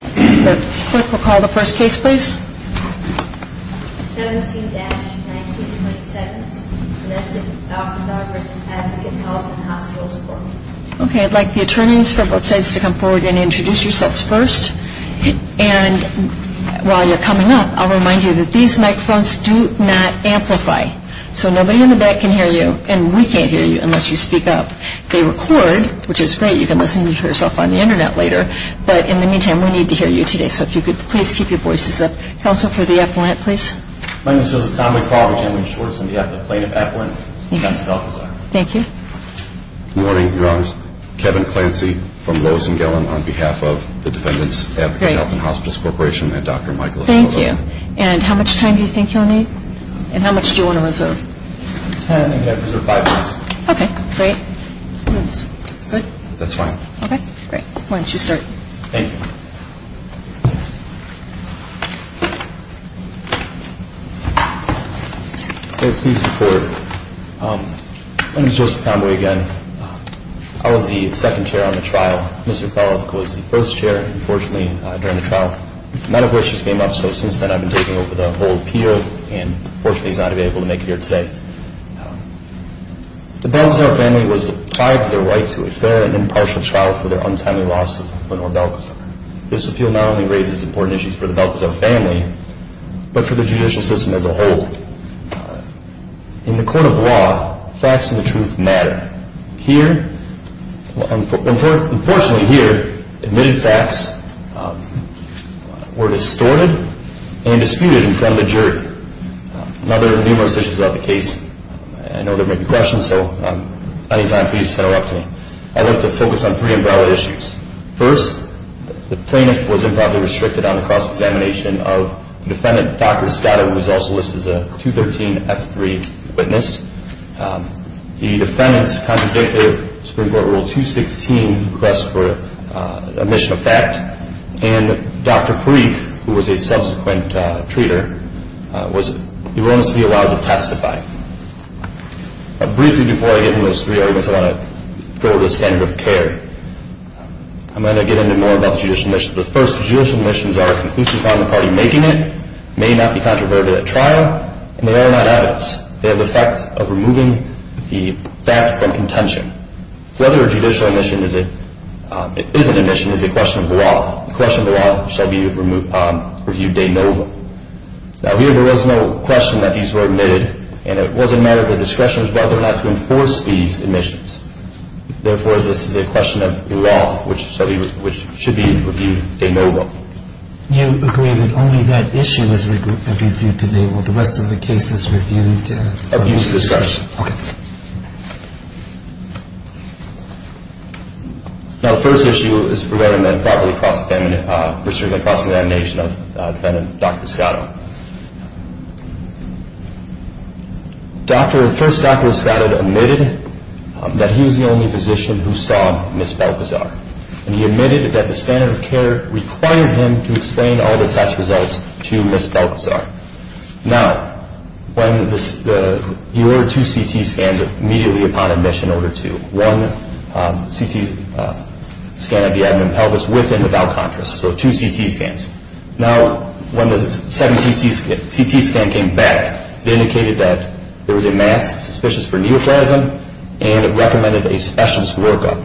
for me. Okay, I'd like the attorneys for both sides to come forward and introduce yourselves first. And while you're coming up, I'll remind you that these microphones do not amplify. So nobody in the back can hear you and we can't hear you unless you speak up. They record, which is great, you can listen to yourself on the Internet later, but in the meantime we need to hear you today. So if you could please keep your voices up. Counsel for the appellant, please. My name is Joseph Conway Crawford, I'm the plaintiff appellant for Massive Alcazar. Thank you. Good morning, your honors. Kevin Clancy from Lewis and Gellin on behalf of the Defendants Advocate Health and Hospitals Corporation and Dr. Michael Escobar. Thank you. And how much time do you think you'll need? And how much do you want to reserve? Ten, I think I reserved five minutes. Okay, great. Good? That's fine. Okay, great. Why don't you start? Thank you. Please support. My name is Joseph Conway again. I was the second chair on the trial. Mr. Bellock was the first chair, unfortunately, during the trial. A lot of issues came up, so since then I've been taking over the whole appeal and unfortunately he's not going to be able to make it here today. The Bellocks, our family, was tied to their right to a fair and impartial trial for their untimely loss of Lenore Belkacar. This appeal not only raises important issues for the Belkacar family, but for the judicial system as a whole. In the court of law, facts and the truth matter. Here, unfortunately here, admitted facts were distorted and disputed in front of the jury. Another numerous issues about the case, I want to focus on three umbrella issues. First, the plaintiff was improperly restricted on the cross-examination of defendant Dr. Scott, who was also listed as a 213F3 witness. The defendants contradict their Supreme Court Rule 216 request for omission of fact, and Dr. Parikh, who was a subsequent treater, was erroneously allowed to testify. Briefly before I get into those three arguments, I want to go over the standard of care. I'm going to get into more about the judicial omission. The first judicial omissions are conclusive on the party making it, may not be controverted at trial, and they are not evidence. They have the effect of removing the fact from contention. Whether a judicial omission is an omission is a question of the law. The question of the law shall be reviewed de novo. Now here, there was no question that these were omitted, and it was a matter of discretion as to whether or not to enforce these omissions. Therefore, this is a question of the law, which should be reviewed de novo. You agree that only that issue is reviewed today. Will the rest of the cases be reviewed of use of discretion? Of use of discretion. Okay. Now the first issue is preventing improperly restricted cross-examination of defendant Dr. Escado. First, Dr. Escado admitted that he was the only physician who saw Ms. Belkazar, and he admitted that the standard of care required him to explain all the test results to Ms. Belkazar. Now, he ordered two CT scans immediately upon admission, Order 2. One CT scan of the abdomen and pelvis with and without contrast, so two CT scans. Now, when the second CT scan came back, it indicated that there was a mass suspicious for neoplasm, and it recommended a specialist workup.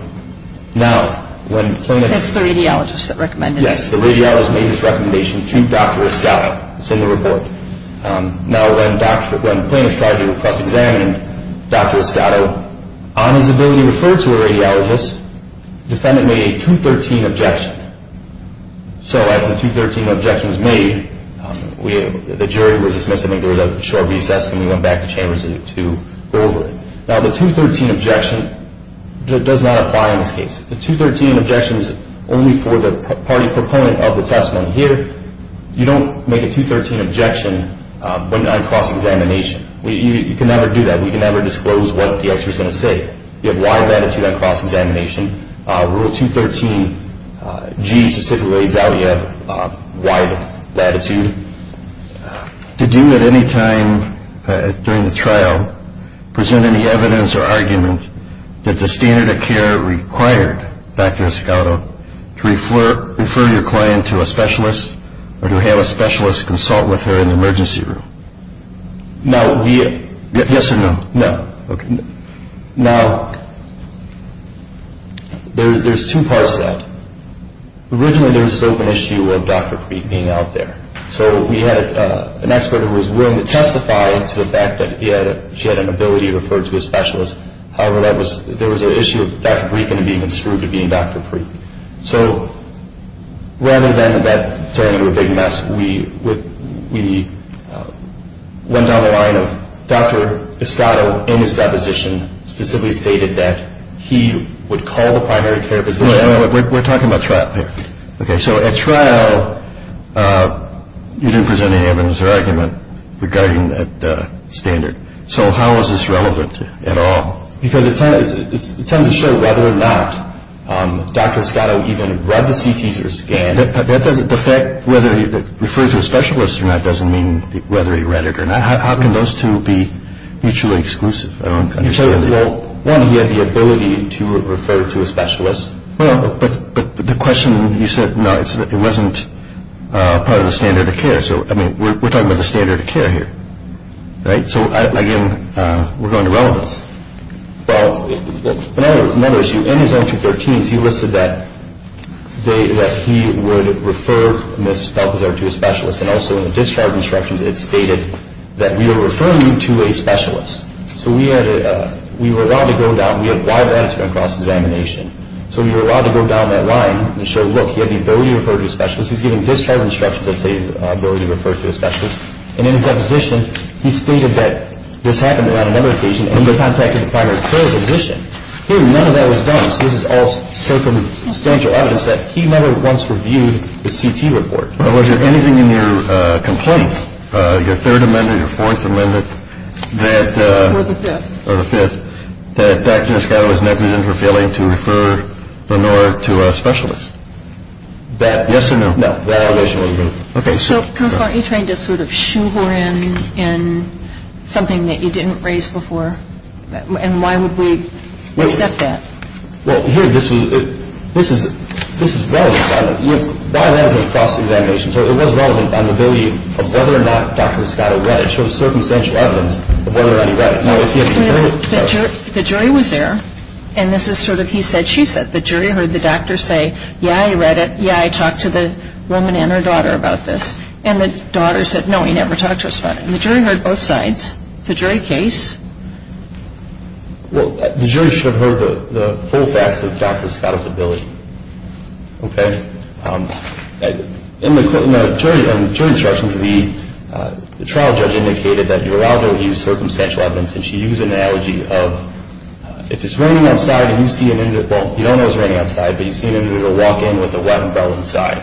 Now, when plaintiff... That's the radiologist that recommended it. Yes, the radiologist made his recommendation to Dr. Escado. It's in the report. Now, when plaintiff tried to do a cross-examination, Dr. Escado, on his ability to refer to a radiologist, defendant made a 213 objection. So after the 213 objection was made, the jury was dismissed. I think there was a short recess, and we went back to chambers to go over it. Now, the 213 objection does not apply in this case. The 213 objection is only for the party proponent of the testimony. Here, you don't make a 213 objection on cross-examination. You can never do that. We can never disclose what the expert is going to say. You have wide latitude on cross-examination. Rule 213G specifically lays out you have wide latitude. Did you at any time during the trial present any evidence or argument that the standard care required Dr. Escado to refer your client to a specialist or to have a specialist consult with her in the emergency room? No. Yes or no? No. Okay. Now, there's two parts to that. Originally, there was this open issue of Dr. Preet being out there. So we had an expert who was willing to testify to the fact that she had an ability to refer to a specialist. However, there was an issue of Dr. Preet being construed to being Dr. Preet. So rather than that turning into a big mess, we went down the line of Dr. Escado in his deposition specifically stated that he would call the primary care physician out. We're talking about trial here. Okay. So at trial, you didn't present any evidence or argument at all. Because it tends to show whether or not Dr. Escado even read the CT scan. The fact whether he referred to a specialist or not doesn't mean whether he read it or not. How can those two be mutually exclusive? Well, one, he had the ability to refer to a specialist. Well, but the question you said, no, it wasn't part of the standard of care. So, I mean, we're talking about the standard of care here. Right? So, again, we're going to relevance. Well, another issue, in his entry 13, he listed that he would refer Ms. Balthazar to a specialist. And also in the discharge instructions, it stated that we are referring you to a specialist. So we had a, we were allowed to go down, we have wide latitude on cross-examination. So we were allowed to go down that line and show, look, he had the ability to refer to a specialist. And in his deposition, he stated that this happened on another occasion, and he contacted the primary care physician. Here, none of that was done. So this is all circumstantial evidence that he never once reviewed the CT report. Well, was there anything in your complaint, your Third Amendment, your Fourth Amendment, that Or the Fifth. Or the Fifth, that Dr. Escado was negligent for failing to refer Lenore to a specialist? That Yes or no? No. So, Counselor, aren't you trying to sort of shoe her in, in something that you didn't raise before? And why would we accept that? Well, here, this was, this is, this is relevant. You have wide latitude on cross-examination. So it was relevant on the ability of whether or not Dr. Escado read it. It shows circumstantial evidence of whether or not he read it. The jury was there, and this is sort of, he said, she said, the jury heard the doctor say, Yeah, I read it. Yeah, I talked to the woman and her daughter about this. And the daughter said, no, he never talked to us about it. And the jury heard both sides. It's a jury case. Well, the jury should have heard the full facts of Dr. Escado's ability. Okay? In the jury instructions, the trial judge indicated that Uraldo used circumstantial evidence, and she used an analogy of, if it's raining outside and you see an individual, well, you don't know it's raining outside, but you see an individual walk in with a wet umbrella inside.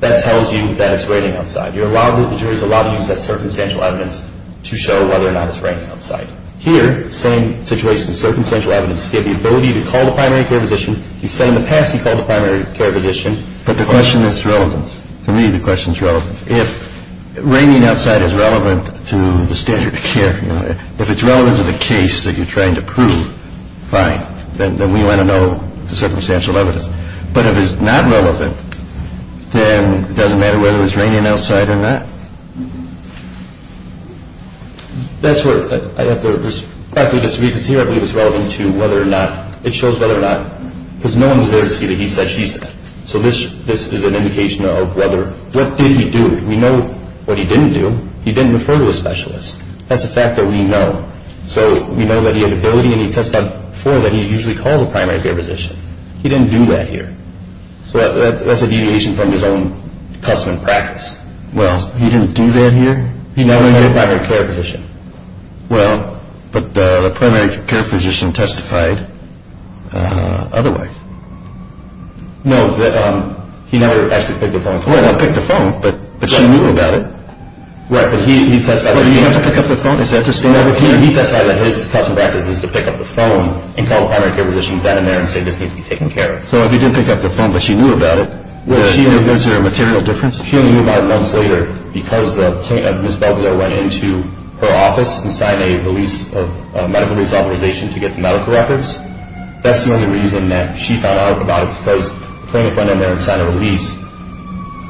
That tells you that it's raining outside. You're allowed, the jury's allowed to use that circumstantial evidence to show whether or not it's raining outside. Here, same situation, circumstantial evidence. He had the ability to call the primary care physician. He said in the past he called the primary care physician. But the question is relevance. To me, the question is relevance. If raining outside is relevant to the standard of care, you know, if it's relevant to the case that you're trying to prove, fine. Then we want to know the circumstantial evidence. But if it's not relevant, then it doesn't matter whether it's raining outside or not. That's where I have to respectfully disagree, because here I believe it's relevant to whether or not, it shows whether or not, because no one was there to see that he said, she said. So this is an indication of whether, what did he do? We know what he didn't do. He didn't refer to a specialist. That's a fact that we know. So we know that he had the ability, and he testified before, that he usually called the primary care physician. He didn't do that here. So that's a deviation from his own custom and practice. Well, he didn't do that here? He never called the primary care physician. Well, but the primary care physician testified otherwise. No, he never actually picked up the phone. Well, he picked up the phone, but she knew about it. Right, but he testified. But do you have to pick up the phone? Is that the standard? No, but he testified that his custom practice is to pick up the phone and call the primary care physician then and there and say, this needs to be taken care of. So if he didn't pick up the phone, but she knew about it, was there a material difference? She only knew about it months later because the plaintiff, Ms. Belvedere, went into her office and signed a release of medical release authorization to get the medical records. That's the only reason that she found out about it, because the plaintiff went in there and signed a release,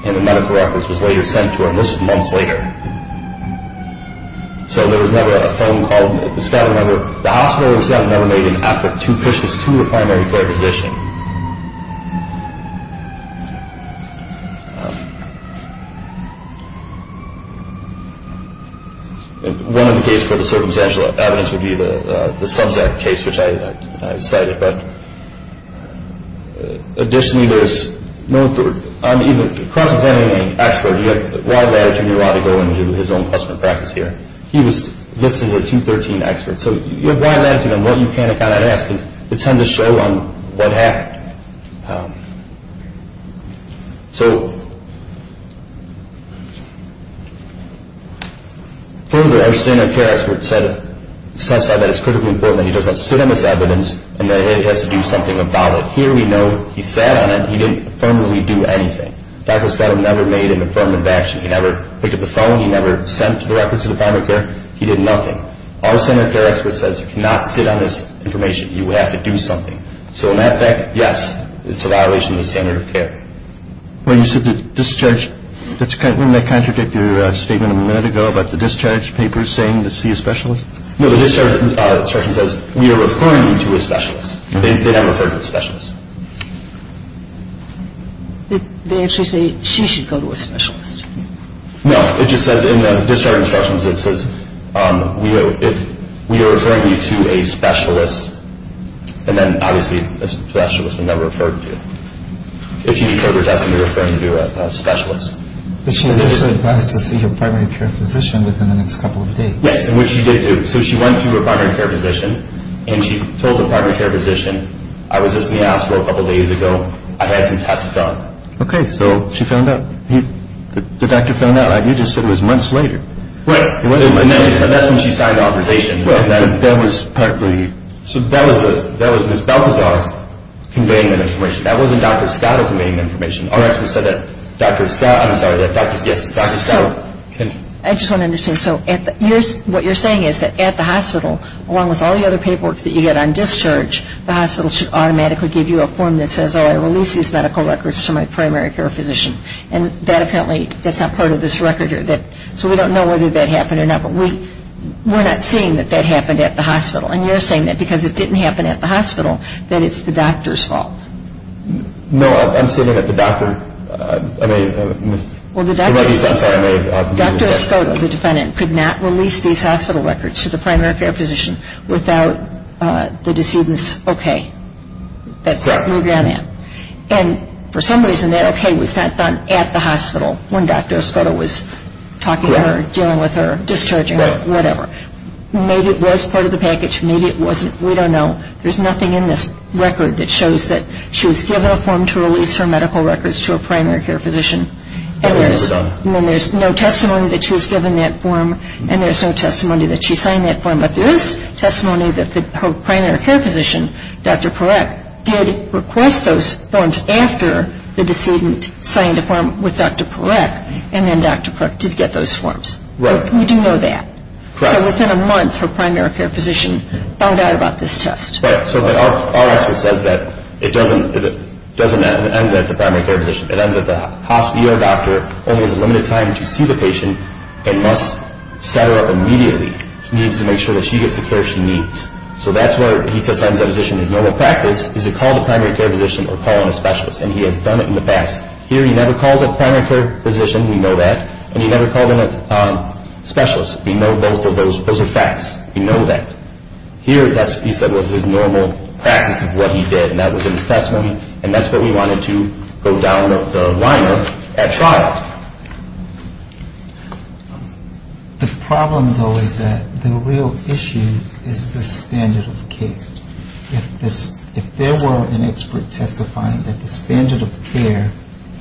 and the medical records was later sent to her. And this was months later. So there was never a phone call. The hospital itself never made an effort to push this to the primary care physician. One of the cases for the circumstantial evidence would be the Subzack case, which I cited. But additionally, there was no cross-examining expert. He had wide latitude. He wanted to go and do his own custom practice here. He was listed as a 213 expert. So you have wide latitude on what you can and cannot ask, because it tends to show on what happened. So further, our standard care expert testified that it's critically important that he does not sit on this evidence and that he has to do something about it. Here we know he sat on it. He didn't affirmatively do anything. Dr. Scott never made an affirmative action. He never picked up the phone. He never sent the records to the primary care. He did nothing. Our standard care expert says you cannot sit on this information. You have to do something. So in that fact, yes, it's a violation of the standard of care. Well, you said the discharge. Didn't that contradict your statement a minute ago about the discharge papers saying it's the specialist? No, the discharge instruction says we are referring you to a specialist. They never referred you to a specialist. They actually say she should go to a specialist. No, it just says in the discharge instructions, it says we are referring you to a specialist, and then obviously a specialist was never referred to. If you need cover testing, we're referring you to a specialist. But she was also advised to see her primary care physician within the next couple of days. Yes, which she did do. So she went to her primary care physician, and she told the primary care physician, I was just in the hospital a couple of days ago. I had some tests done. Okay. So she found out. The doctor found out. You just said it was months later. It wasn't months later. That's when she signed the authorization. That was partly. That was Ms. Balthazar conveying that information. That wasn't Dr. Scott conveying the information. Our expert said that Dr. Scott, I'm sorry, that Dr. Scott. I just want to understand. So what you're saying is that at the hospital, along with all the other paperwork that you get on discharge, the hospital should automatically give you a form that says, oh, I release these medical records to my primary care physician. And that apparently, that's not part of this record. So we don't know whether that happened or not. But we're not seeing that that happened at the hospital. And you're saying that because it didn't happen at the hospital, that it's the doctor's fault. No, I'm saying that the doctor. Well, the doctor. I'm sorry. Dr. Scott, the defendant, could not release these hospital records to the primary care physician without the decedent's okay. That's what we're getting at. And for some reason, that okay was not done at the hospital when Dr. Scott was talking to her, dealing with her, discharging her, whatever. Maybe it was part of the package. Maybe it wasn't. We don't know. There's nothing in this record that shows that she was given a form to release her medical records to a primary care physician. And then there's no testimony that she was given that form, and there's no testimony that she signed that form. But there is testimony that her primary care physician, Dr. Parekh, did request those forms after the decedent signed a form with Dr. Parekh, and then Dr. Parekh did get those forms. Right. We do know that. Correct. So within a month, her primary care physician found out about this test. Right. So our expert says that it doesn't end at the primary care physician. It ends at the hospital. Your doctor only has a limited time to see the patient and must set her up immediately. She needs to make sure that she gets the care she needs. So that's where he just finds that physician. There's no practice. Is it called a primary care physician or call in a specialist? And he has done it in the past. Here, he never called a primary care physician. We know that. And he never called in a specialist. We know both of those are facts. We know that. Here, he said that was his normal practice of what he did, and that was in his testimony, and that's what we wanted to go down the line of at trial. The problem, though, is that the real issue is the standard of care. If there were an expert testifying that the standard of care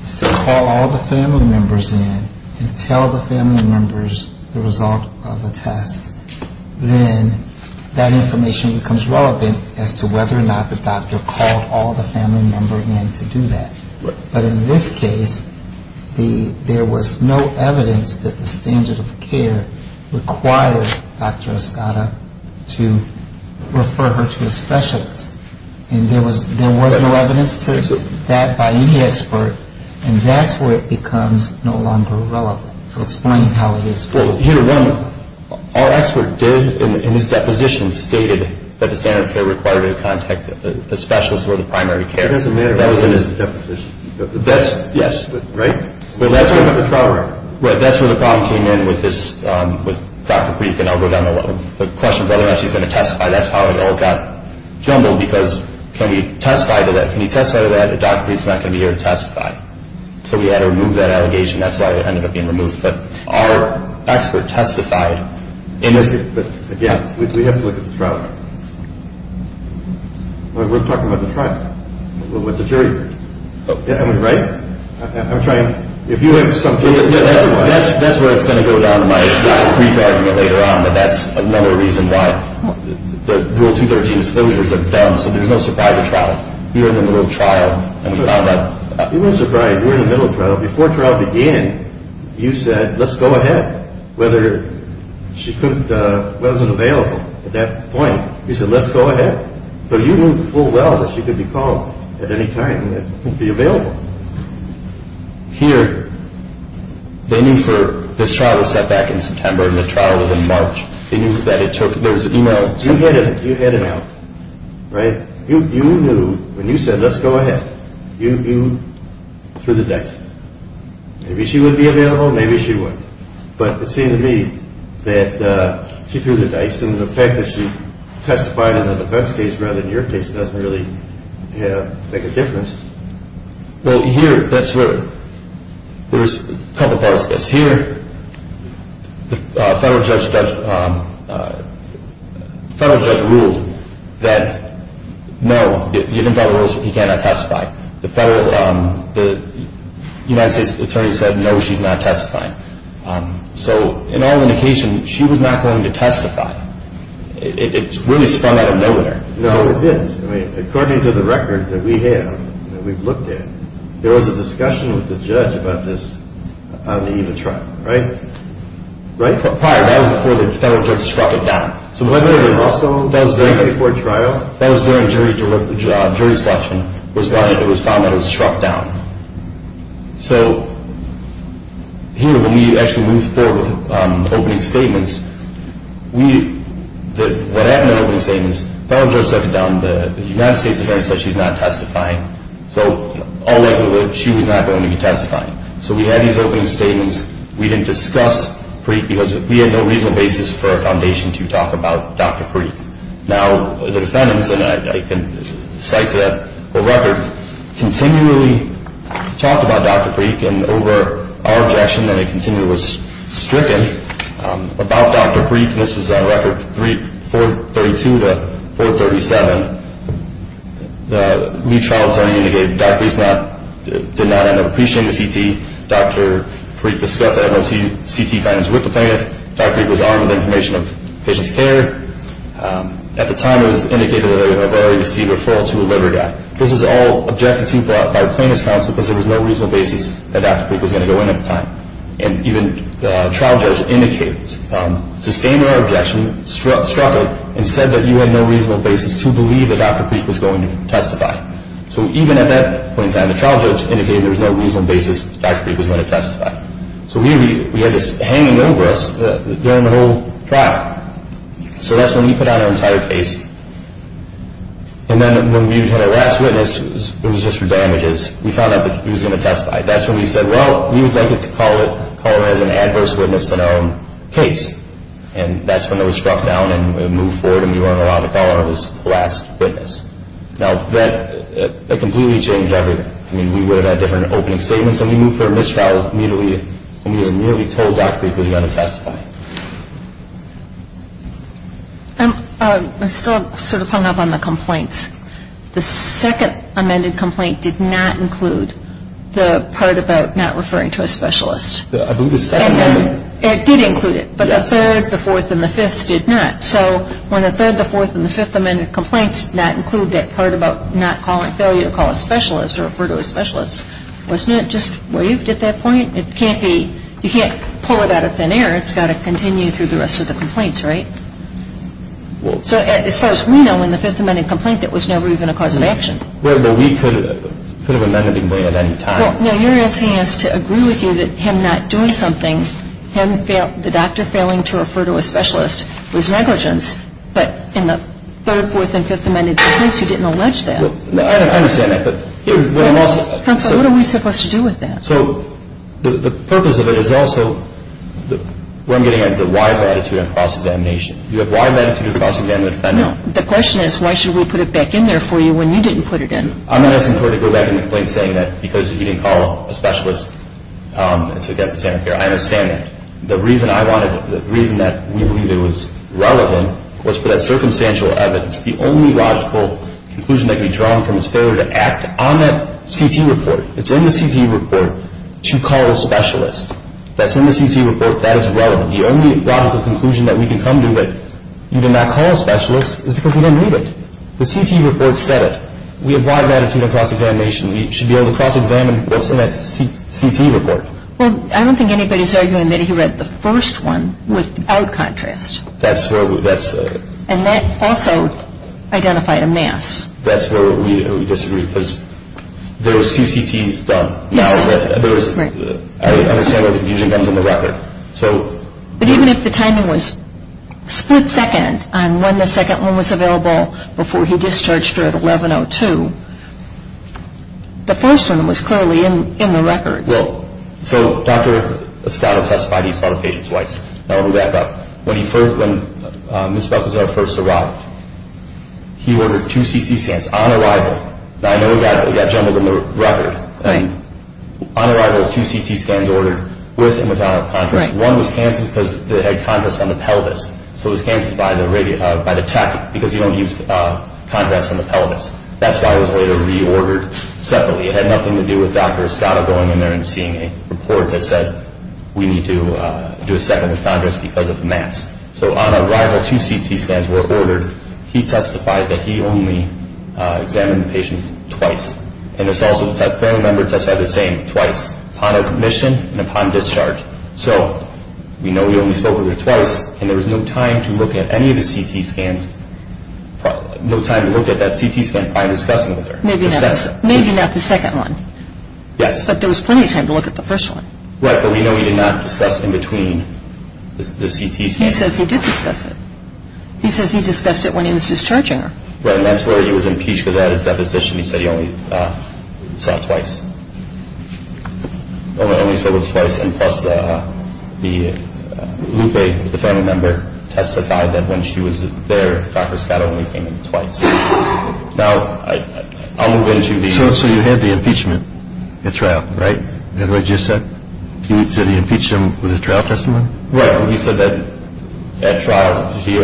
is to call all the family members in and tell the family members the result of the test, then that information becomes relevant as to whether or not the doctor called all the family members in to do that. But in this case, there was no evidence that the standard of care required Dr. Escada to refer her to a specialist, and there was no evidence to that by any expert, and that's where it becomes no longer relevant. So explain how it is full. Well, here, one, our expert did, in his deposition, stated that the standard of care required her to contact a specialist or the primary care. It doesn't matter where it is in the deposition. That's, yes. Right? That's where the problem came in with this, with Dr. Preethan. I'll go down the line. The question of whether or not she's going to testify, that's how it all got jumbled, because can we testify to that? So we had to remove that allegation. That's why it ended up being removed. But our expert testified. But, again, we have to look at the trial. We're talking about the trial, with the jury. Right? I'm trying. If you have something. That's where it's going to go down in my brief argument later on, but that's another reason why the Rule 213 disclosures are dumb, so there's no surprise at trial. We were in the middle of trial, and we found out. You weren't surprised. You were in the middle of trial. Before trial began, you said, let's go ahead, whether she wasn't available at that point. You said, let's go ahead. So you knew full well that she could be called at any time and be available. Here, they knew for, this trial was set back in September, and the trial was in March. They knew that it took, there was an email. You had it out. Right? You knew when you said, let's go ahead. You threw the dice. Maybe she would be available. Maybe she wouldn't. But it seemed to me that she threw the dice, and the fact that she testified in a defense case rather than your case doesn't really make a difference. Well, here, that's where, there's a couple parts to this. Here, the federal judge ruled that, no, you can't testify. The federal, the United States attorney said, no, she's not testifying. So in all indication, she was not going to testify. It really spun out of nowhere. No, it didn't. According to the record that we have, that we've looked at, there was a discussion with the judge about this on the eve of trial. Right? Right? Prior, that was before the federal judge struck it down. So was there also a jury before trial? That was during jury selection was when it was found that it was struck down. So here, when we actually moved forward with opening statements, we, what happened at opening statements, the federal judge struck it down. The United States attorney said she's not testifying. So all likelihood, she was not going to be testifying. So we had these opening statements. We didn't discuss Preeke because we had no reasonable basis for a foundation to talk about Dr. Preeke. Now, the defendants, and I can cite the record, continually talked about Dr. Preeke, and over our objection that it continually was stricken about Dr. Preeke, and this was on record 432 to 437. The new trial attorney indicated Dr. Preeke did not end up appreciating the CT. Dr. Preeke discussed the MOT CT findings with the plaintiff. Dr. Preeke was armed with information of patient's care. At the time, it was indicated that they had already received a referral to a liver guy. This was all objected to by the plaintiff's counsel because there was no reasonable basis that Dr. Preeke was going to go in at the time. And even the trial judge indicated, sustained our objection, struck it, and said that you had no reasonable basis to believe that Dr. Preeke was going to testify. So even at that point in time, the trial judge indicated there was no reasonable basis Dr. Preeke was going to testify. So we had this hanging over us during the whole trial. So that's when we put out our entire case. And then when we had our last witness, it was just for damages, we found out that he was going to testify. That's when we said, well, we would like to call her as an adverse witness in our case. And that's when it was struck down and moved forward and we weren't allowed to call her as the last witness. Now, that completely changed everything. I mean, we would have had different opening statements. And we moved for a mistrial when we were merely told Dr. Preeke was going to testify. I'm still sort of hung up on the complaints. The second amended complaint did not include the part about not referring to a specialist. I believe the second amendment. It did include it. Yes. But the third, the fourth, and the fifth did not. So when the third, the fourth, and the fifth amended complaints did not include that part about not calling a failure to call a specialist or refer to a specialist, wasn't it just waived at that point? It can't be you can't pull it out of thin air. It's got to continue through the rest of the complaints, right? So as far as we know, in the fifth amended complaint, that was never even a cause of action. Well, we could have amended the complaint at any time. Well, you're asking us to agree with you that him not doing something, the doctor failing to refer to a specialist, was negligence. But in the third, fourth, and fifth amended complaints, you didn't allege that. I understand that. But what are we supposed to do with that? So the purpose of it is also, what I'm getting at is a wide latitude on cross-examination. You have wide latitude on cross-examination. No. The question is why should we put it back in there for you when you didn't put it in? I'm not asking for her to go back in the complaint saying that because you didn't call a specialist, it's against the standard of care. I understand that. The reason I wanted it, the reason that we believe it was relevant, was for that circumstantial evidence, the only logical conclusion that can be drawn from this failure to act on that CT report. It's in the CT report to call a specialist. That's in the CT report. That is relevant. The only logical conclusion that we can come to that you did not call a specialist is because you didn't read it. The CT report said it. We have wide latitude on cross-examination. We should be able to cross-examine what's in that CT report. Well, I don't think anybody's arguing that he read the first one without contrast. That's where we're at. And that also identified a mess. That's where we disagree because there was two CTs done. Yes. I understand where the confusion comes in the record. But even if the timing was split second on when the second one was available before he discharged her at 11.02, the first one was clearly in the records. Well, so Dr. Scott testified he saw the patient twice. I'll go back up. When Ms. Buckelsdorf first arrived, he ordered two CT scans on arrival. I know we got jumbled in the record. On arrival, two CT scans ordered with and without contrast. One was canceled because it had contrast on the pelvis. So it was canceled by the tech because you don't use contrast on the pelvis. That's why it was later reordered separately. It had nothing to do with Dr. Scott going in there and seeing a report that said, we need to do a second with contrast because of the mass. So on arrival, two CT scans were ordered. He testified that he only examined the patient twice. And his also third member testified the same, twice, upon admission and upon discharge. So we know he only spoke with her twice. And there was no time to look at any of the CT scans, no time to look at that CT scan by discussing with her. Maybe not the second one. Yes. But there was plenty of time to look at the first one. Right. But we know he did not discuss in between the CT scans. He says he did discuss it. He says he discussed it when he was discharging her. Right. And that's where he was impeached because at his deposition he said he only saw it twice. Only saw it twice. And plus the Lupe, the family member, testified that when she was there, Dr. Scott only came in twice. Now, I'll move into the... So you had the impeachment at trial, right? Is that what you said? You said he impeached him with his trial testimony? Right. He said that at trial, he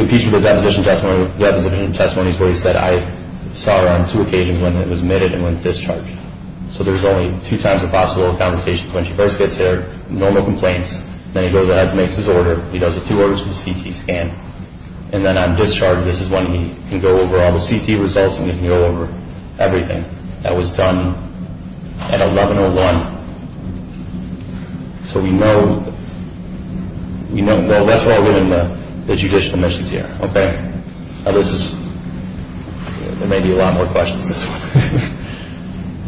impeached with a deposition testimony. Deposition testimony is where he said, I saw her on two occasions, when it was admitted and when it was discharged. So there was only two times of possible conversations. When she first gets there, normal complaints. Then he goes ahead and makes his order. He does the two orders for the CT scan. And then on discharge, this is when he can go over all the CT results and he can go over everything. And that was done at 1101. So we know... Well, that's where I live in the judicial missions here, okay? Now, this is... There may be a lot more questions than this one.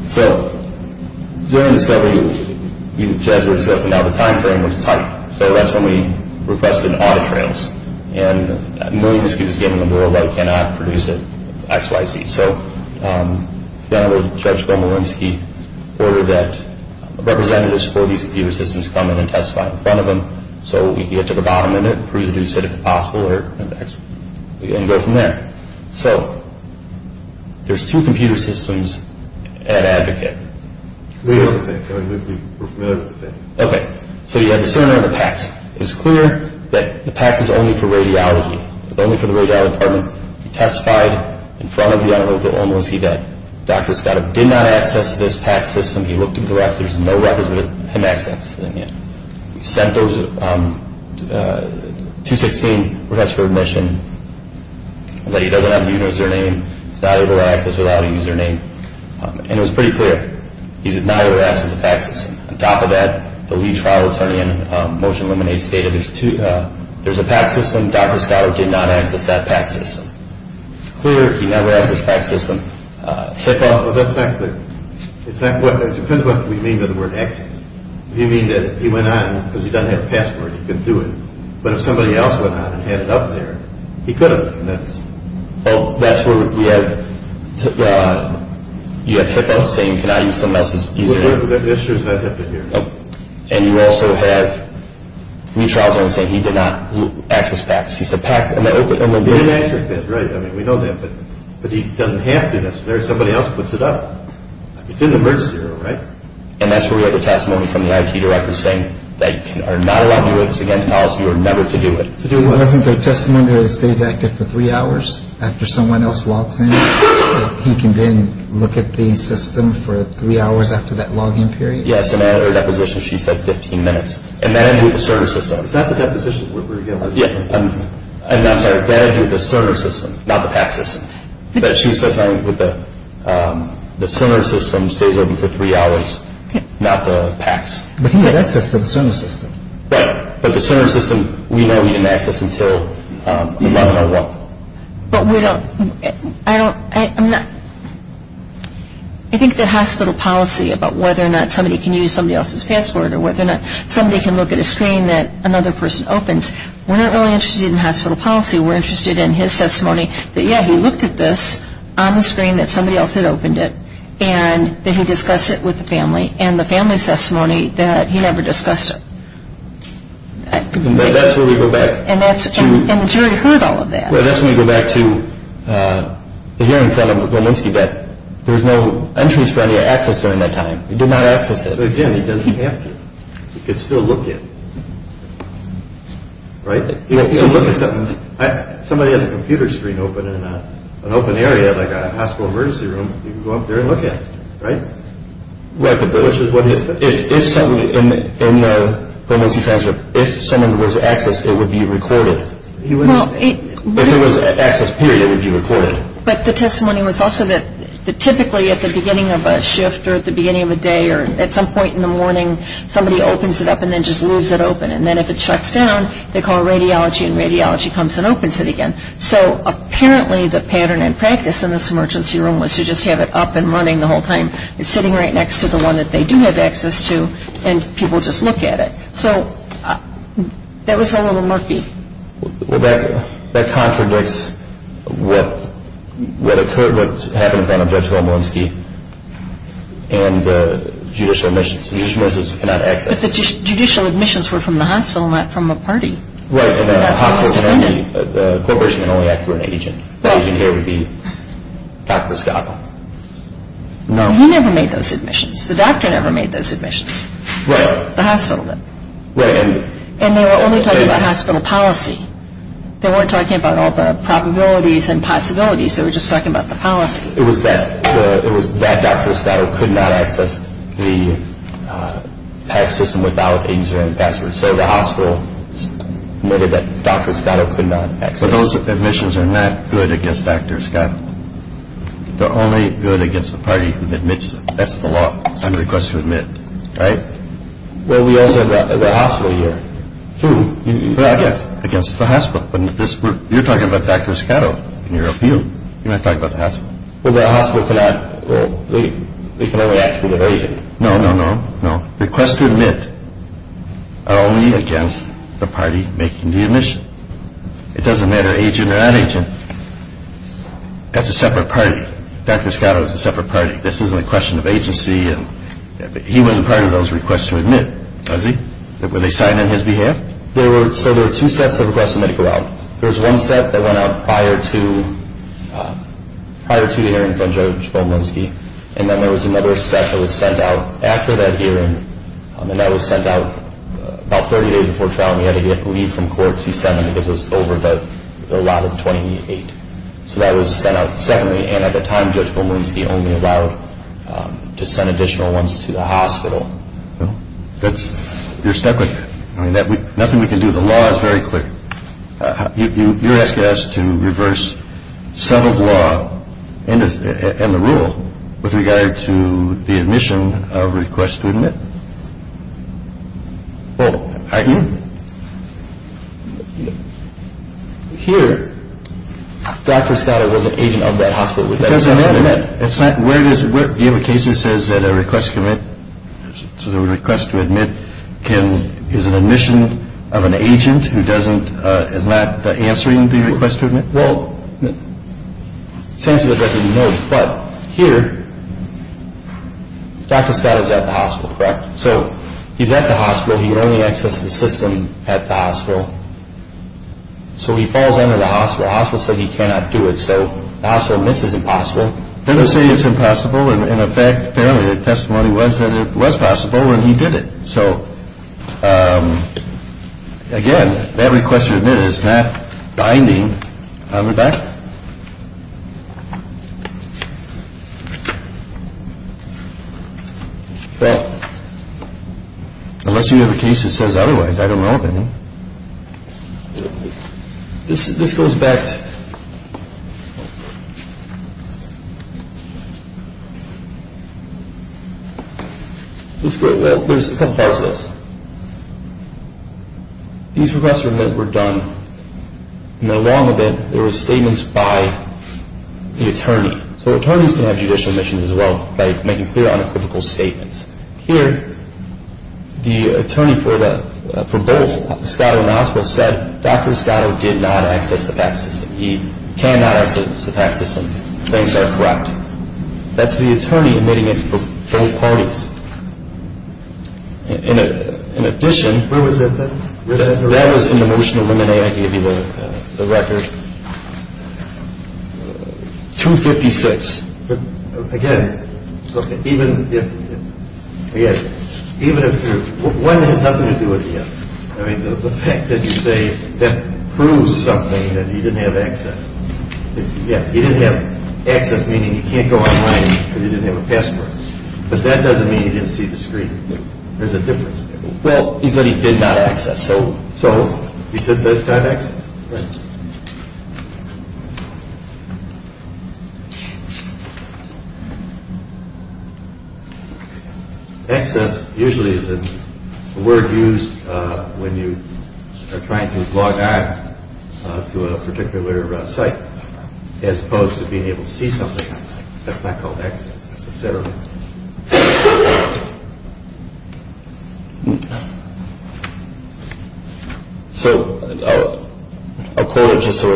So, during discovery, as we're discussing now, the time frame was tight. So that's when we requested audit trails. And a million excuses gave in the world that we cannot produce it XYZ. So General Judge Gomolinsky ordered that representatives for these computer systems come in and testify in front of them so we can get to the bottom of it, produce it as soon as possible, and go from there. So there's two computer systems at Advocate. Okay. So you have the center and the PACS. It is clear that the PACS is only for radiology, only for the radiology department. He testified in front of General Judge Gomolinsky that Dr. Scotto did not access this PACS system. He looked at the records. There's no records with him accessing it. He sent those 216 requests for admission. He doesn't have a user name. He's not able to access it without a user name. And it was pretty clear. He's not able to access the PACS system. On top of that, the lead trial attorney in Motion to Eliminate stated there's a PACS system. And Dr. Scotto did not access that PACS system. It's clear he never accessed the PACS system. HIPAA. Well, that's not clear. It depends on what we mean by the word access. If you mean that he went on because he doesn't have a password, he couldn't do it. But if somebody else went on and had it up there, he could have. Well, that's where we have HIPAA saying can I use someone else's user name. That's true. It's not HIPAA here. And you also have a new trial attorney saying he did not access PACS. He said PACS. He didn't access it. Right. I mean, we know that. But he doesn't have to. Somebody else puts it up. It's in the emergency room, right? And that's where we have a testimony from the IT director saying that you are not allowed to do it. It's against policy. You are never to do it. Wasn't there a testimony that it stays active for three hours after someone else logs in? He can then look at the system for three hours after that login period? Yes. In our deposition, she said 15 minutes. And that ended with the Cerner system. Is that the deposition? Yeah. I'm sorry. That ended with the Cerner system, not the PACS system. But she says that the Cerner system stays open for three hours, not the PACS. But he had access to the Cerner system. Right. But the Cerner system, we know he didn't access until 11 or 1. I think that hospital policy about whether or not somebody can use somebody else's passport or whether or not somebody can look at a screen that another person opens, we're not really interested in hospital policy. We're interested in his testimony that, yeah, he looked at this on the screen that somebody else had opened it and that he discussed it with the family and the family's testimony that he never discussed it. That's where we go back. And the jury heard all of that. Well, that's when we go back to the hearing from Volminsky that there was no entries for any access during that time. He did not access it. But, again, he doesn't have to. He can still look at it. Right? He can look at something. If somebody has a computer screen open in an open area like a hospital emergency room, he can go up there and look at it. Right? Right. Which is what he said. If somebody in the Volminsky transfer, if someone was accessed, it would be recorded. If it was an access period, it would be recorded. But the testimony was also that typically at the beginning of a shift or at the beginning of a day or at some point in the morning, somebody opens it up and then just leaves it open. And then if it shuts down, they call radiology, and radiology comes and opens it again. So apparently the pattern in practice in this emergency room was to just have it up and running the whole time. It's sitting right next to the one that they do have access to, and people just look at it. So that was a little murky. Well, that contradicts what happened at the end of Judge Volminsky and the judicial admissions. The judicial admissions were not accessed. But the judicial admissions were from the hospital, not from a party. Right. And a hospital can only, a corporation can only act through an agent. The agent here would be Dr. Scott. No. He never made those admissions. The doctor never made those admissions. Right. The hospital did. Right. And they were only talking about hospital policy. They weren't talking about all the probabilities and possibilities. They were just talking about the policy. It was that Dr. Scott could not access the PACS system without a user and password. So the hospital admitted that Dr. Scott could not access it. But those admissions are not good against Dr. Scott. They're only good against the party who admits them. That's the law. Unrequest to admit. Right? Well, we also have the hospital here. True. Against the hospital. But you're talking about Dr. Scott in your appeal. You're not talking about the hospital. Well, the hospital cannot, well, they can only act through their agent. No, no, no, no. Request to admit are only against the party making the admission. It doesn't matter agent or non-agent. That's a separate party. Dr. Scott is a separate party. This isn't a question of agency. He wasn't part of those requests to admit, was he? Were they signed on his behalf? So there were two sets of requests to admit to go out. There was one set that went out prior to the hearing from Judge Olmanski, and then there was another set that was sent out after that hearing, and that was sent out about 30 days before trial. We had to leave from court until 7 because it was over the lot of 28. So that was sent out secondly, and at the time Judge Olmanski only allowed to send additional ones to the hospital. Well, you're stuck with it. I mean, nothing we can do. The law is very quick. You're asking us to reverse some of the law and the rule with regard to the admission of request to admit? Well, here, Dr. Scott was an agent of that hospital. Do you have a case that says that a request to admit is an admission of an agent who is not answering the request to admit? Well, it's answering the request to admit, but here, Dr. Scott is at the hospital, correct? So he's at the hospital. He only accessed the system at the hospital. So he falls under the hospital. The hospital says he cannot do it, so the hospital admits it's impossible. It doesn't say it's impossible. In effect, apparently the testimony was that it was possible, and he did it. So, again, that request to admit is not binding. I'll be back. Well, unless you have a case that says otherwise, I don't know of any. This goes back to – there's a couple parts to this. These requests to admit were done in a long event. There were statements by the attorney. So attorneys can have judicial admissions as well by making clear, unequivocal statements. Here, the attorney for both, Scott and the hospital, said Dr. Scott did not access the PACS system. He cannot access the PACS system. Things are corrupt. That's the attorney admitting it for both parties. In addition – Where was that then? That was in the motion of Women A. I gave you the record. 256. Again, even if you're – one has nothing to do with the other. I mean, the fact that you say that proves something, that he didn't have access. Yeah, he didn't have access, meaning he can't go online because he didn't have a password. But that doesn't mean he didn't see the screen. There's a difference there. Well, he said he did not access. So? So, he said that he didn't have access. Access usually is a word used when you are trying to log on to a particular site as opposed to being able to see something. That's not called access necessarily. So, I'll quote it just so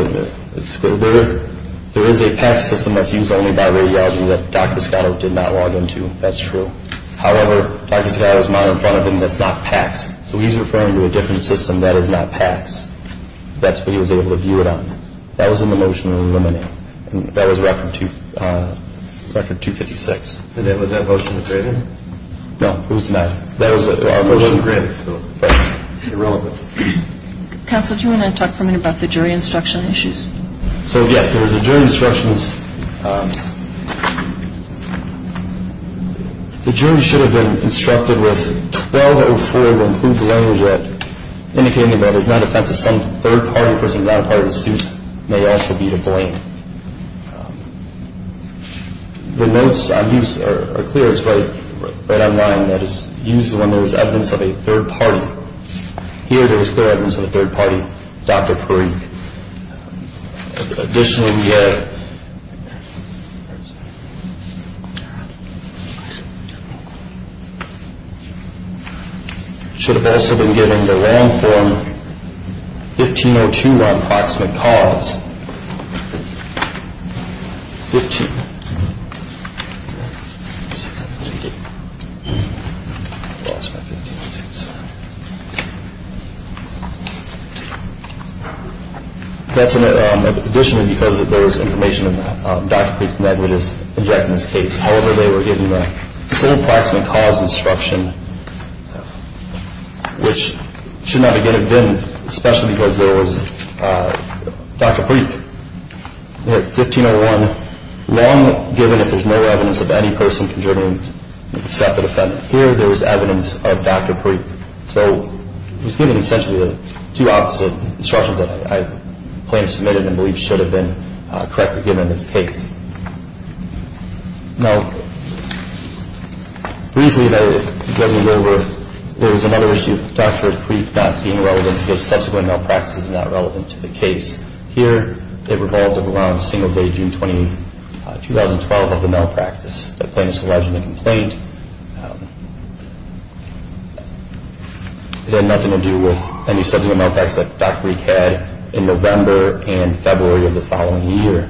it's clear. There is a PACS system that's used only by radiology that Dr. Scott did not log into. That's true. However, Dr. Scott has mine in front of him that's not PACS. So, he's referring to a different system that is not PACS. That's what he was able to view it on. That was in the motion of Women A. And that was Record 256. And was that motion degraded? No, it was not. That was a motion degraded. Irrelevant. Counsel, do you want to talk for a minute about the jury instruction issues? So, yes, there was a jury instructions. The jury should have been instructed with 1204, to include the language that indicated that it is not the defense of some third party for some non-party of the suit may also be to blame. The notes on here are clear. It's right on line. That is used when there is evidence of a third party. Here, there is clear evidence of a third party, Dr. Parikh. Additionally, we have, should have also been given the land form 1502 on proximate cause. That's in it. Additionally, because there was information about Dr. Parikh's negligence in this case, however, they were given the same proximate cause instruction, which should not have been, especially because there was Dr. Parikh, 1501, wrong given if there is no evidence of any person contributing to the suspected offense. Here, there is evidence of Dr. Parikh. So, it was given essentially the two opposite instructions that I claim to have submitted and believe should have been correctly given in this case. Now, briefly, there was another issue of Dr. Parikh not being relevant because subsequent malpractice is not relevant to the case. Here, it revolved around a single day, June 20, 2012, of the malpractice. The plaintiff's alleged complaint had nothing to do with any subsequent malpractice that Dr. Parikh had in November and February of the following year.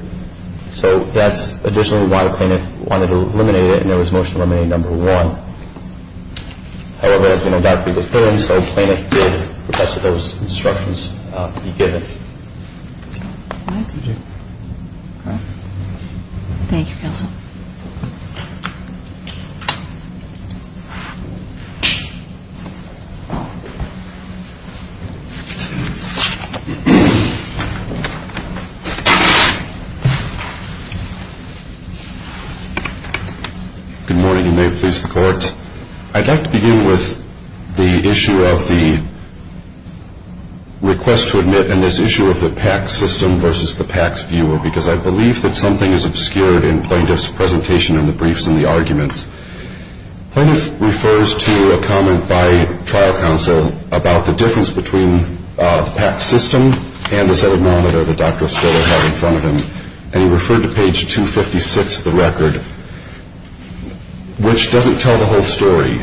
So, that's additionally why the plaintiff wanted to eliminate it, and there was Motion to Eliminate Number 1. However, as we know Dr. Parikh is failing, so the plaintiff did request that those instructions be given. Thank you. Okay. Thank you, Counsel. Good morning, and may it please the Court. I'd like to begin with the issue of the request to admit and this issue of the PACS system versus the PACS viewer because I believe that something is obscured in the plaintiff's presentation and the briefs and the arguments. Plaintiff refers to a comment by trial counsel about the difference between the PACS system and the zeta-millimeter that Dr. Estola had in front of him, and he referred to page 256 of the record, which doesn't tell the whole story.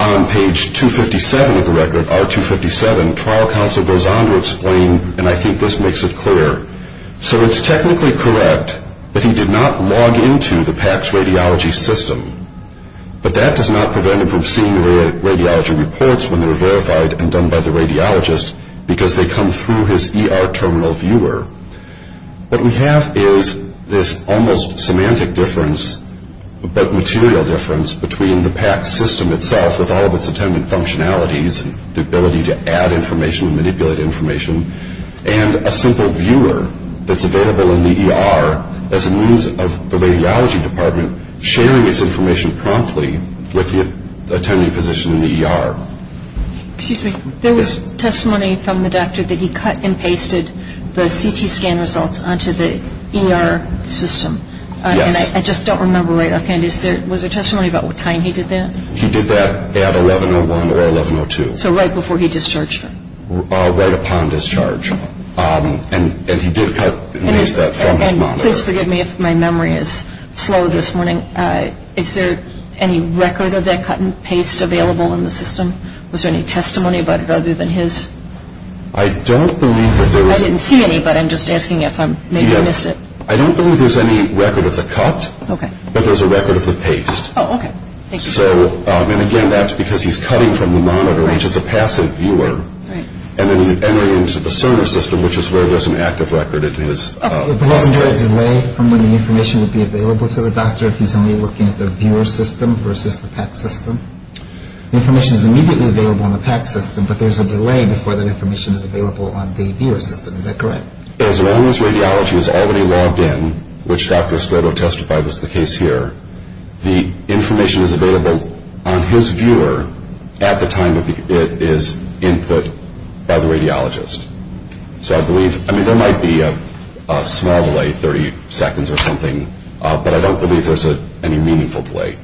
On page 257 of the record, R257, trial counsel goes on to explain, and I think this makes it clear, so it's technically correct that he did not log into the PACS radiology system, but that does not prevent him from seeing the radiology reports when they're verified and done by the radiologist because they come through his ER terminal viewer. What we have is this almost semantic difference, but material difference, between the PACS system itself with all of its attendant functionalities, the ability to add information and manipulate information, and a simple viewer that's available in the ER as a means of the radiology department sharing its information promptly with the attending physician in the ER. Excuse me. There was testimony from the doctor that he cut and pasted the CT scan results onto the ER system. Yes. And I just don't remember right offhand. Was there testimony about what time he did that? He did that at 1101 or 1102. So right before he discharged her. Right upon discharge. And he did cut and paste that from his monitor. And please forgive me if my memory is slow this morning. Is there any record of that cut and paste available in the system? Was there any testimony about it other than his? I don't believe that there is. I didn't see any, but I'm just asking if maybe I missed it. I don't believe there's any record of the cut. Okay. But there's a record of the paste. Oh, okay. Thank you. And, again, that's because he's cutting from the monitor, which is a passive viewer. Right. And then he entered into the CERN system, which is where there's an active record. But isn't there a delay from when the information would be available to the doctor if he's only looking at the viewer system versus the PAC system? The information is immediately available in the PAC system, but there's a delay before that information is available on the viewer system. Is that correct? As long as radiology is already logged in, which Dr. Escoto testified was the case here, the information is available on his viewer at the time it is input by the radiologist. So I believe, I mean, there might be a small delay, 30 seconds or something, but I don't believe there's any meaningful delay.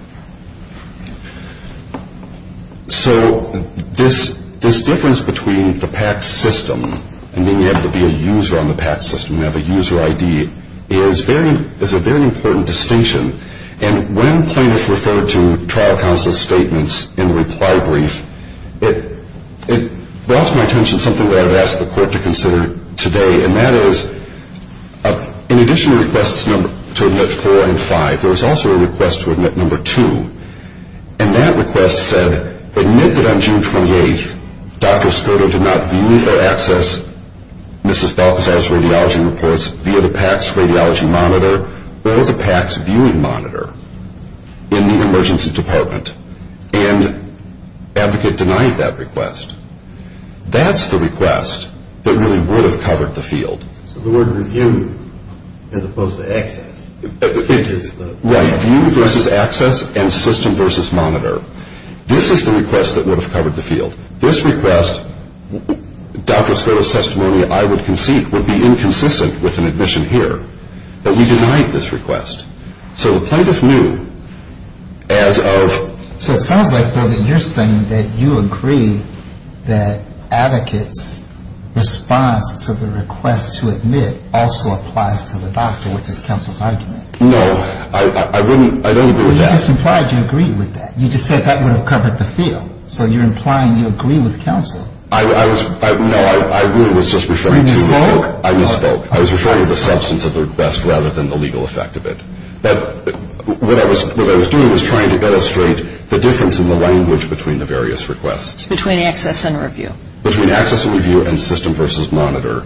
So this difference between the PAC system and being able to be a user on the PAC system and have a user ID is a very important distinction. And when plaintiffs referred to trial counsel's statements in the reply brief, it brought to my attention something that I've asked the court to consider today, and that is in addition to requests to admit 4 and 5, there was also a request to admit number 2. And that request said, admit that on June 28th Dr. Escoto did not view or access Mrs. Balthazar's radiology reports via the PAC's radiology monitor or the PAC's viewing monitor in the emergency department. And the advocate denied that request. That's the request that really would have covered the field. The word review as opposed to access. Right, view versus access and system versus monitor. This is the request that would have covered the field. This request, Dr. Escoto's testimony, I would concede, would be inconsistent with an admission here. But we denied this request. So the plaintiff knew as of. So it sounds like you're saying that you agree that advocates' response to the request to admit also applies to the doctor, which is counsel's argument. No, I don't agree with that. You just implied you agreed with that. You just said that would have covered the field. So you're implying you agree with counsel. No, I really was just referring to. You misspoke? I misspoke. I was referring to the substance of the request rather than the legal effect of it. What I was doing was trying to illustrate the difference in the language between the various requests. Between access and review. Between access and review and system versus monitor.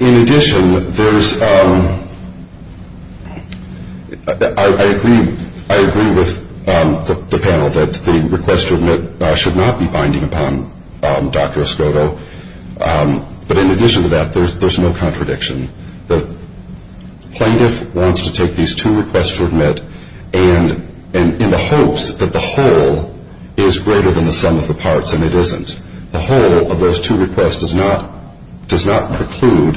In addition, I agree with the panel that the request to admit should not be binding upon Dr. Escoto. But in addition to that, there's no contradiction. The plaintiff wants to take these two requests to admit and in the hopes that the whole thing is going to be greater than the sum of the parts, and it isn't. The whole of those two requests does not preclude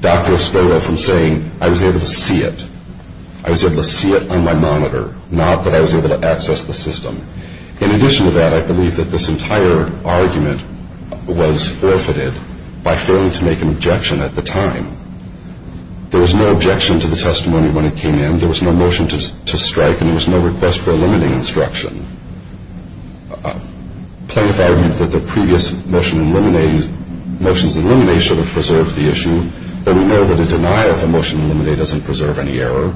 Dr. Escoto from saying, I was able to see it. I was able to see it on my monitor, not that I was able to access the system. In addition to that, I believe that this entire argument was forfeited by failing to make an objection at the time. There was no objection to the testimony when it came in. There was no motion to strike and there was no request for eliminating instruction. Plaintiff argued that the previous motions eliminate should have preserved the issue, but we know that a denial of the motion eliminate doesn't preserve any error.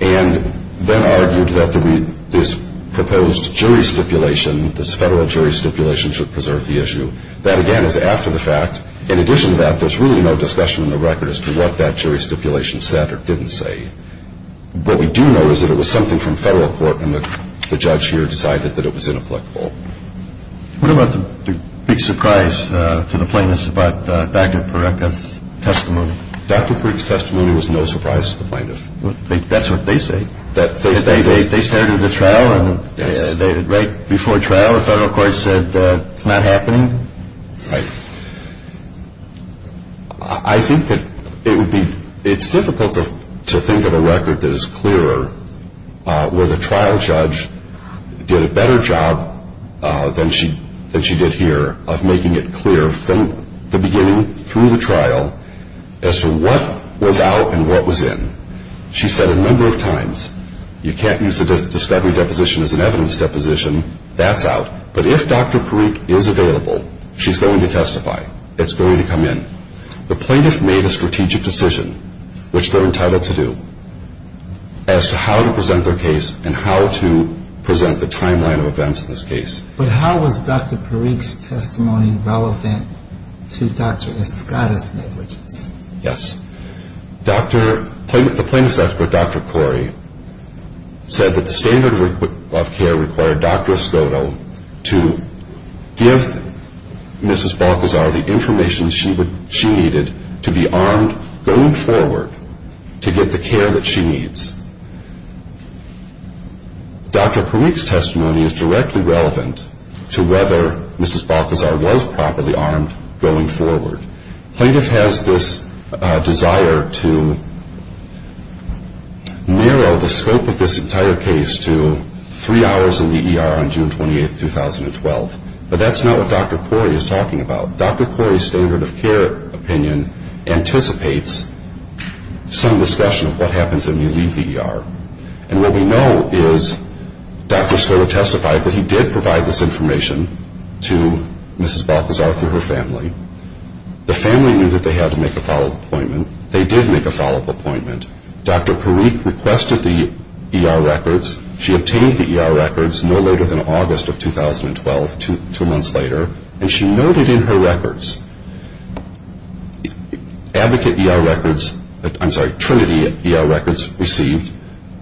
And then argued that this proposed jury stipulation, this federal jury stipulation, should preserve the issue. That, again, is after the fact. In addition to that, there's really no discussion in the record as to what that jury stipulation said or didn't say. What we do know is that it was something from federal court and the judge here decided that it was inapplicable. What about the big surprise to the plaintiffs about Dr. Porecka's testimony? Dr. Porecka's testimony was no surprise to the plaintiff. That's what they say. They started the trial and right before trial, the federal court said, it's not happening. Right. I think that it's difficult to think of a record that is clearer where the trial judge did a better job than she did here of making it clear from the beginning through the trial as to what was out and what was in. She said a number of times, you can't use the discovery deposition as an evidence deposition. That's out. But if Dr. Porecka is available, she's going to testify. It's going to come in. The plaintiff made a strategic decision, which they're entitled to do, as to how to present their case and how to present the timeline of events in this case. But how was Dr. Porecka's testimony relevant to Dr. Escotta's negligence? Yes. The plaintiff's expert, Dr. Corey, said that the standard of care required Dr. Escotta to give Mrs. Balcazar the information she needed to be armed going forward to get the care that she needs. Dr. Porecka's testimony is directly relevant to whether Mrs. Balcazar was properly armed going forward. Plaintiff has this desire to narrow the scope of this entire case to three hours in the ER on June 28, 2012. But that's not what Dr. Corey is talking about. Dr. Corey's standard of care opinion anticipates some discussion of what happens when you leave the ER. And what we know is Dr. Escotta testified that he did provide this information to Mrs. Balcazar through her family. The family knew that they had to make a follow-up appointment. They did make a follow-up appointment. Dr. Porecka requested the ER records. She obtained the ER records no later than August of 2012, two months later. And she noted in her records, advocate ER records, I'm sorry, trinity ER records received,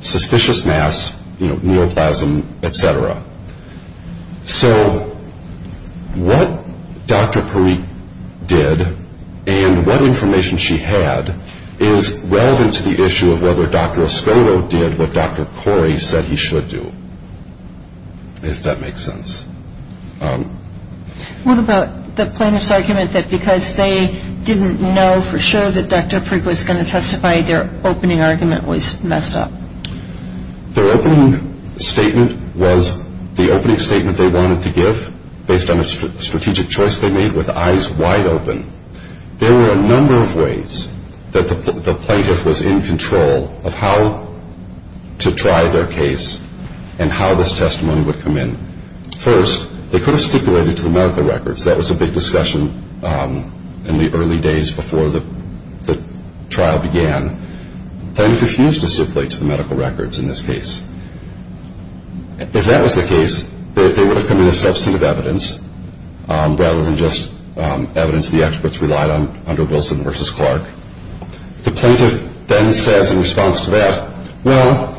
suspicious mass, you know, neoplasm, et cetera. So what Dr. Porecka did and what information she had is relevant to the issue of whether Dr. Escotta did what Dr. Corey said he should do, if that makes sense. What about the plaintiff's argument that because they didn't know for sure that Dr. Porecka was going to testify, their opening argument was messed up? Their opening statement was the opening statement they wanted to give based on a strategic choice they made with eyes wide open. There were a number of ways that the plaintiff was in control of how to try their case and how this testimony would come in. First, they could have stipulated to the medical records. That was a big discussion in the early days before the trial began. The plaintiff refused to stipulate to the medical records in this case. If that was the case, they would have come in as substantive evidence, rather than just evidence the experts relied on under Wilson versus Clark. The plaintiff then says in response to that, well,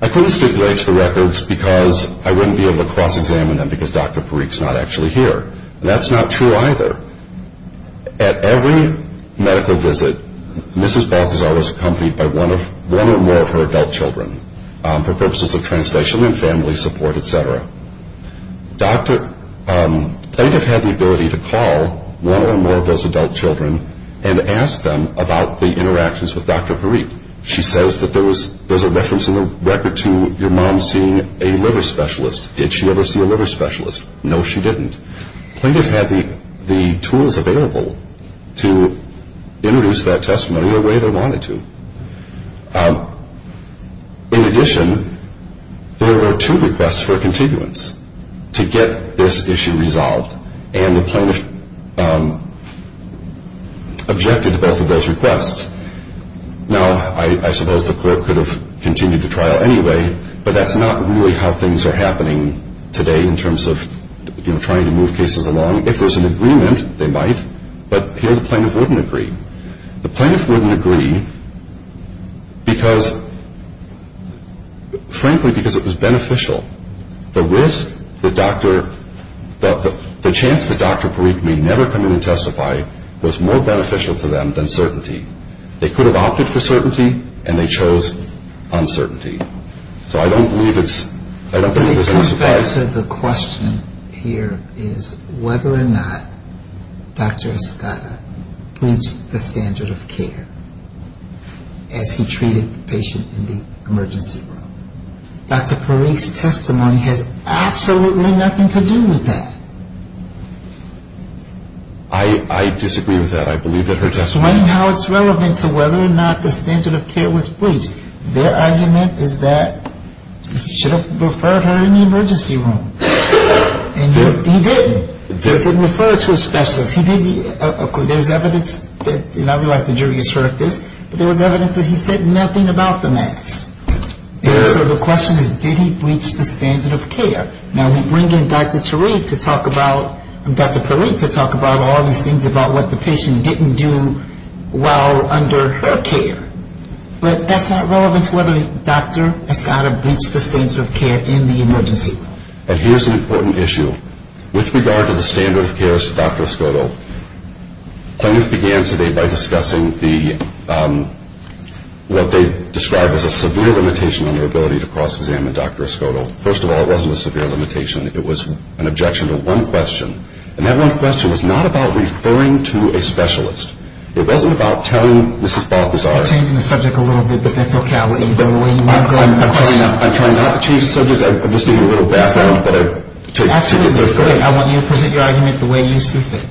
I couldn't stipulate to the records because I wouldn't be able to cross-examine them because Dr. Porecka's not actually here. That's not true either. At every medical visit, Mrs. Balthazar was accompanied by one or more of her adult children for purposes of translation and family support, et cetera. The plaintiff had the ability to call one or more of those adult children and ask them about the interactions with Dr. Porecka. She says that there's a reference in the record to your mom seeing a liver specialist. Did she ever see a liver specialist? No, she didn't. The plaintiff had the tools available to introduce that testimony the way they wanted to. In addition, there were two requests for continuance to get this issue resolved, and the plaintiff objected to both of those requests. Now, I suppose the court could have continued the trial anyway, but that's not really how things are happening today in terms of trying to move cases along. If there's an agreement, they might, but here the plaintiff wouldn't agree. The plaintiff wouldn't agree, frankly, because it was beneficial. The chance that Dr. Porecka may never come in and testify was more beneficial to them than certainty. They could have opted for certainty, and they chose uncertainty. So I don't believe it's a surprise. But it comes back to the question here is whether or not Dr. Estrada reached the standard of care as he treated the patient in the emergency room. Dr. Porecka's testimony has absolutely nothing to do with that. I disagree with that. It's showing how it's relevant to whether or not the standard of care was breached. Their argument is that he should have referred her in the emergency room, and he didn't. He didn't refer her to a specialist. There's evidence, and I realize the jury has heard of this, but there was evidence that he said nothing about the mass. And so the question is did he breach the standard of care? Now, we bring in Dr. Tariq to talk about, Dr. Porecka to talk about all these things about what the patient didn't do well under her care, but that's not relevant to whether a doctor has got to breach the standard of care in the emergency room. And here's an important issue. With regard to the standard of care of Dr. Escoto, the plaintiff began today by discussing what they described as a severe limitation on their ability to cross-examine Dr. Escoto. First of all, it wasn't a severe limitation. It was an objection to one question, and that one question was not about referring to a specialist. It wasn't about telling Mrs. Balthazar. You're changing the subject a little bit, but that's okay. I'll let you go the way you want to go. I'm trying not to change the subject. I'm just giving a little background. Absolutely. Go ahead. I want you to present your argument the way you see fit.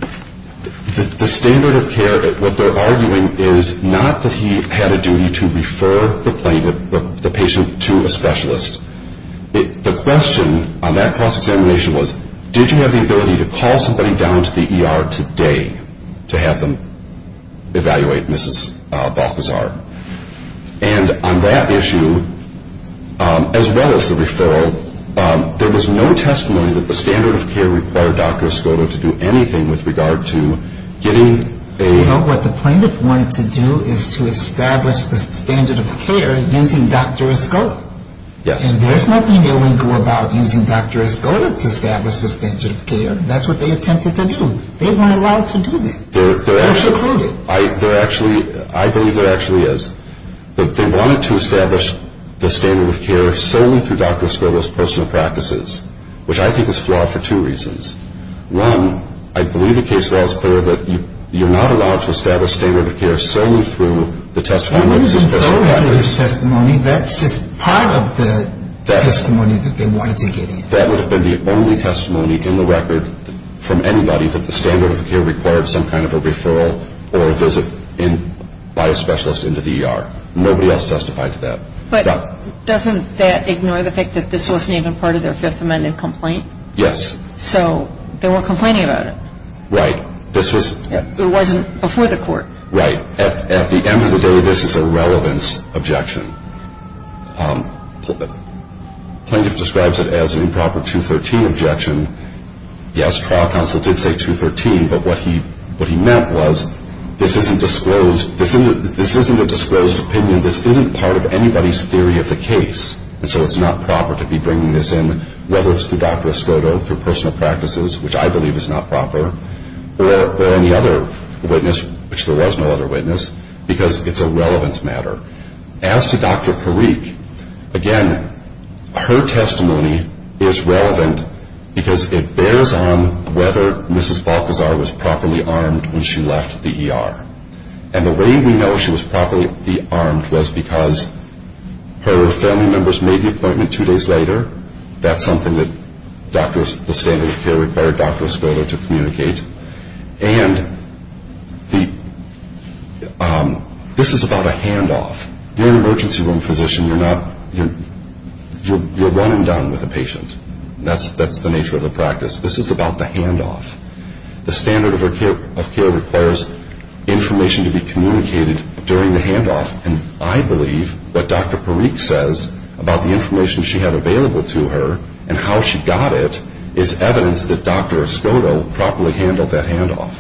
The standard of care, what they're arguing is not that he had a duty to refer the patient to a specialist. The question on that cross-examination was, did you have the ability to call somebody down to the ER today to have them evaluate Mrs. Balthazar? And on that issue, as well as the referral, there was no testimony that the standard of care required Dr. Escoto to do anything with regard to getting a Well, what the plaintiff wanted to do is to establish the standard of care using Dr. Escoto. Yes. And there's nothing illegal about using Dr. Escoto to establish the standard of care. That's what they attempted to do. They weren't allowed to do that. They're actually ‑‑ They're precluded. I believe there actually is. They wanted to establish the standard of care solely through Dr. Escoto's personal practices, which I think is flawed for two reasons. One, I believe the case law is clear that you're not allowed to establish standard of care solely through the testimony That's just part of the testimony that they wanted to get in. That would have been the only testimony in the record from anybody that the standard of care required some kind of a referral or a visit by a specialist into the ER. Nobody else testified to that. But doesn't that ignore the fact that this wasn't even part of their Fifth Amendment complaint? Yes. So they weren't complaining about it. Right. It wasn't before the court. Right. At the end of the day, this is a relevance objection. Plaintiff describes it as an improper 213 objection. Yes, trial counsel did say 213, but what he meant was this isn't a disclosed opinion. This isn't part of anybody's theory of the case. And so it's not proper to be bringing this in, whether it's through Dr. Escoto, through personal practices, which I believe is not proper, or any other witness, which there was no other witness, because it's a relevance matter. As to Dr. Parikh, again, her testimony is relevant because it bears on whether Mrs. Balcazar was properly armed when she left the ER. And the way we know she was properly armed was because her family members made the appointment two days later. That's something that the standard of care required Dr. Escoto to communicate. And this is about a handoff. You're an emergency room physician. You're running down with a patient. That's the nature of the practice. This is about the handoff. The standard of care requires information to be communicated during the handoff. And I believe what Dr. Parikh says about the information she had available to her and how she got it is evidence that Dr. Escoto properly handled that handoff.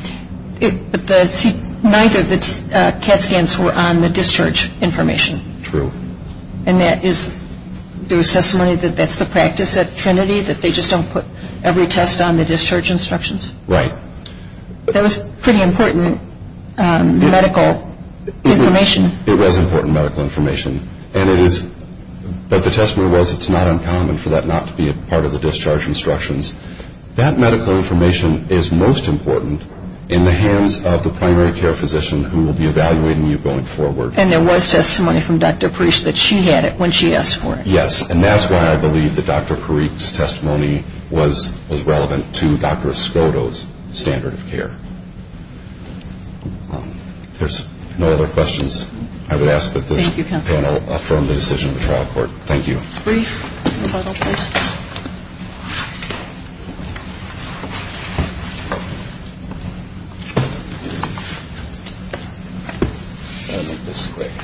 But neither of the CAT scans were on the discharge information. True. And that is, there was testimony that that's the practice at Trinity, that they just don't put every test on the discharge instructions? Right. That was pretty important medical information. It was important medical information. But the testimony was it's not uncommon for that not to be a part of the discharge instructions. That medical information is most important in the hands of the primary care physician who will be evaluating you going forward. And there was testimony from Dr. Parikh that she had it when she asked for it. Yes. And that's why I believe that Dr. Parikh's testimony was relevant to Dr. Escoto's standard of care. If there's no other questions, I would ask that this panel affirm the decision of the trial court. Thank you. Brief and total questions. I'll make this quick. I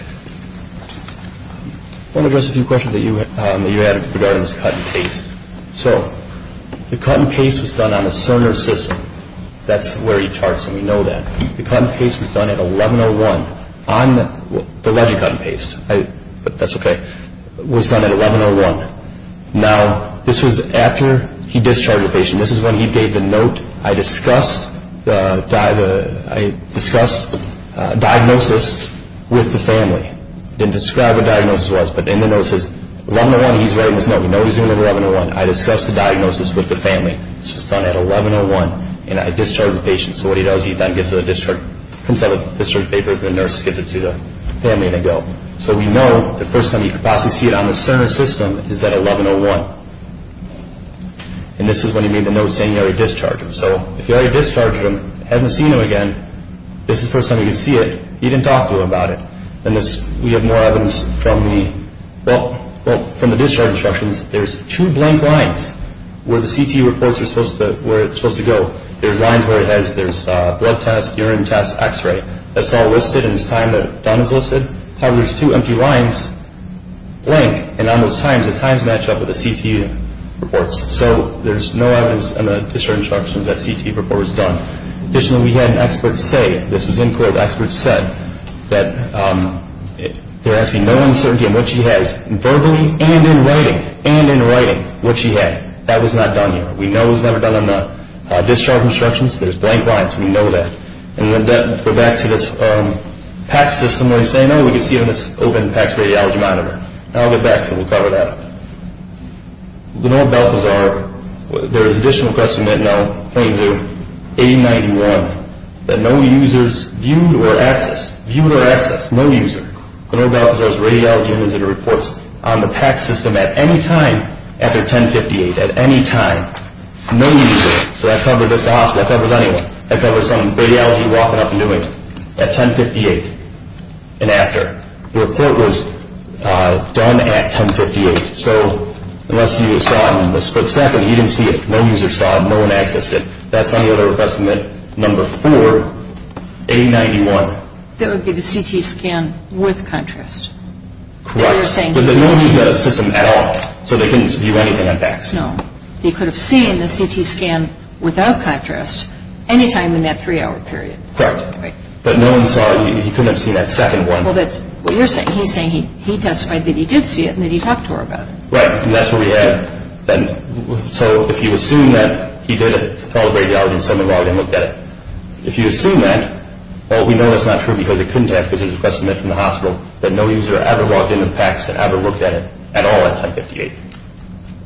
want to address a few questions that you had regarding this cut and paste. So the cut and paste was done on a sonar system. That's where he charts them. We know that. The cut and paste was done at 1101. The legit cut and paste, but that's okay, was done at 1101. Now, this was after he discharged the patient. This is when he gave the note, I discussed diagnosis with the family. He didn't describe what diagnosis it was, but in the note it says, 1101, he's writing this note. We know he's doing it at 1101. I discussed the diagnosis with the family. This was done at 1101, and I discharged the patient. So what he does, he then comes out of the discharge papers, the nurse gives it to the family, and they go. So we know the first time he could possibly see it on the sonar system is at 1101. And this is when he made the note saying he already discharged him. So if he already discharged him, hasn't seen him again, this is the first time he could see it. He didn't talk to him about it. We have more evidence from the discharge instructions. There's two blank lines where the CT reports are supposed to go. There's lines where it has blood tests, urine tests, x-ray. That's all listed, and it's time that it's done is listed. However, there's two empty lines, blank, and on those times, the times match up with the CT reports. So there's no evidence in the discharge instructions that a CT report was done. Additionally, we had an expert say, this was in court, that there has to be no uncertainty in what she has verbally and in writing, and in writing, what she had. That was not done here. We know it was never done on the discharge instructions. There's blank lines. We know that. And we'll go back to this PACS system where they say, no, we can see it on this open PACS radiology monitor. I'll get back to it. We'll cover that. Lenoir-Belkazar, there's an additional question that I'll point you to. A-91, that no users viewed or accessed. Viewed or accessed. No user. Lenoir-Belkazar's radiology monitor reports on the PACS system at any time after 10-58. At any time. No user. So that covers just the hospital. That covers anyone. That covers some radiology walking up and doing it at 10-58 and after. The report was done at 10-58. So unless you saw it in the split second, you didn't see it. No user saw it. No one accessed it. That's on the other request, number four, A-91. That would be the CT scan with contrast. Correct. But no one used that system at all. So they couldn't view anything on PACS. No. They could have seen the CT scan without contrast any time in that three-hour period. Correct. But no one saw it. He couldn't have seen that second one. Well, that's what you're saying. He's saying he testified that he did see it and that he talked to her about it. Right. And that's what we have. So if you assume that he did it to call the radiology and someone logged in and looked at it, if you assume that, well, we know that's not true because it couldn't have because it was requested from the hospital, that no user ever logged in on PACS and ever looked at it at all at 10-58.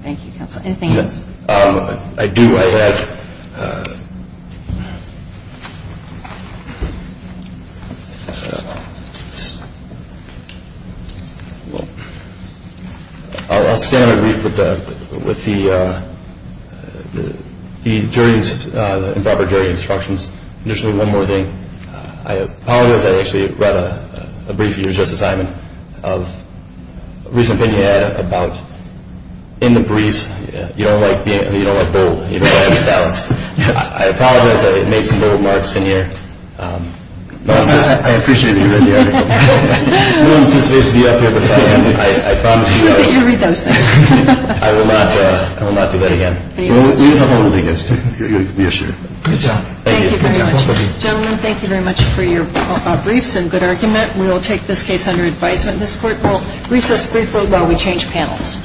Thank you, counsel. Anything else? I do. I'll stay on the brief with the improper jury instructions. Just one more thing. I apologize. I actually read a brief you just assigned of a recent opinion you had about in the breeze, you don't like bull. I apologize. I made some little marks in here. I appreciate it. I will not do that again. Gentlemen, thank you very much for your briefs and good argument. We will take this case under advisement. This Court will recess briefly while we change panels.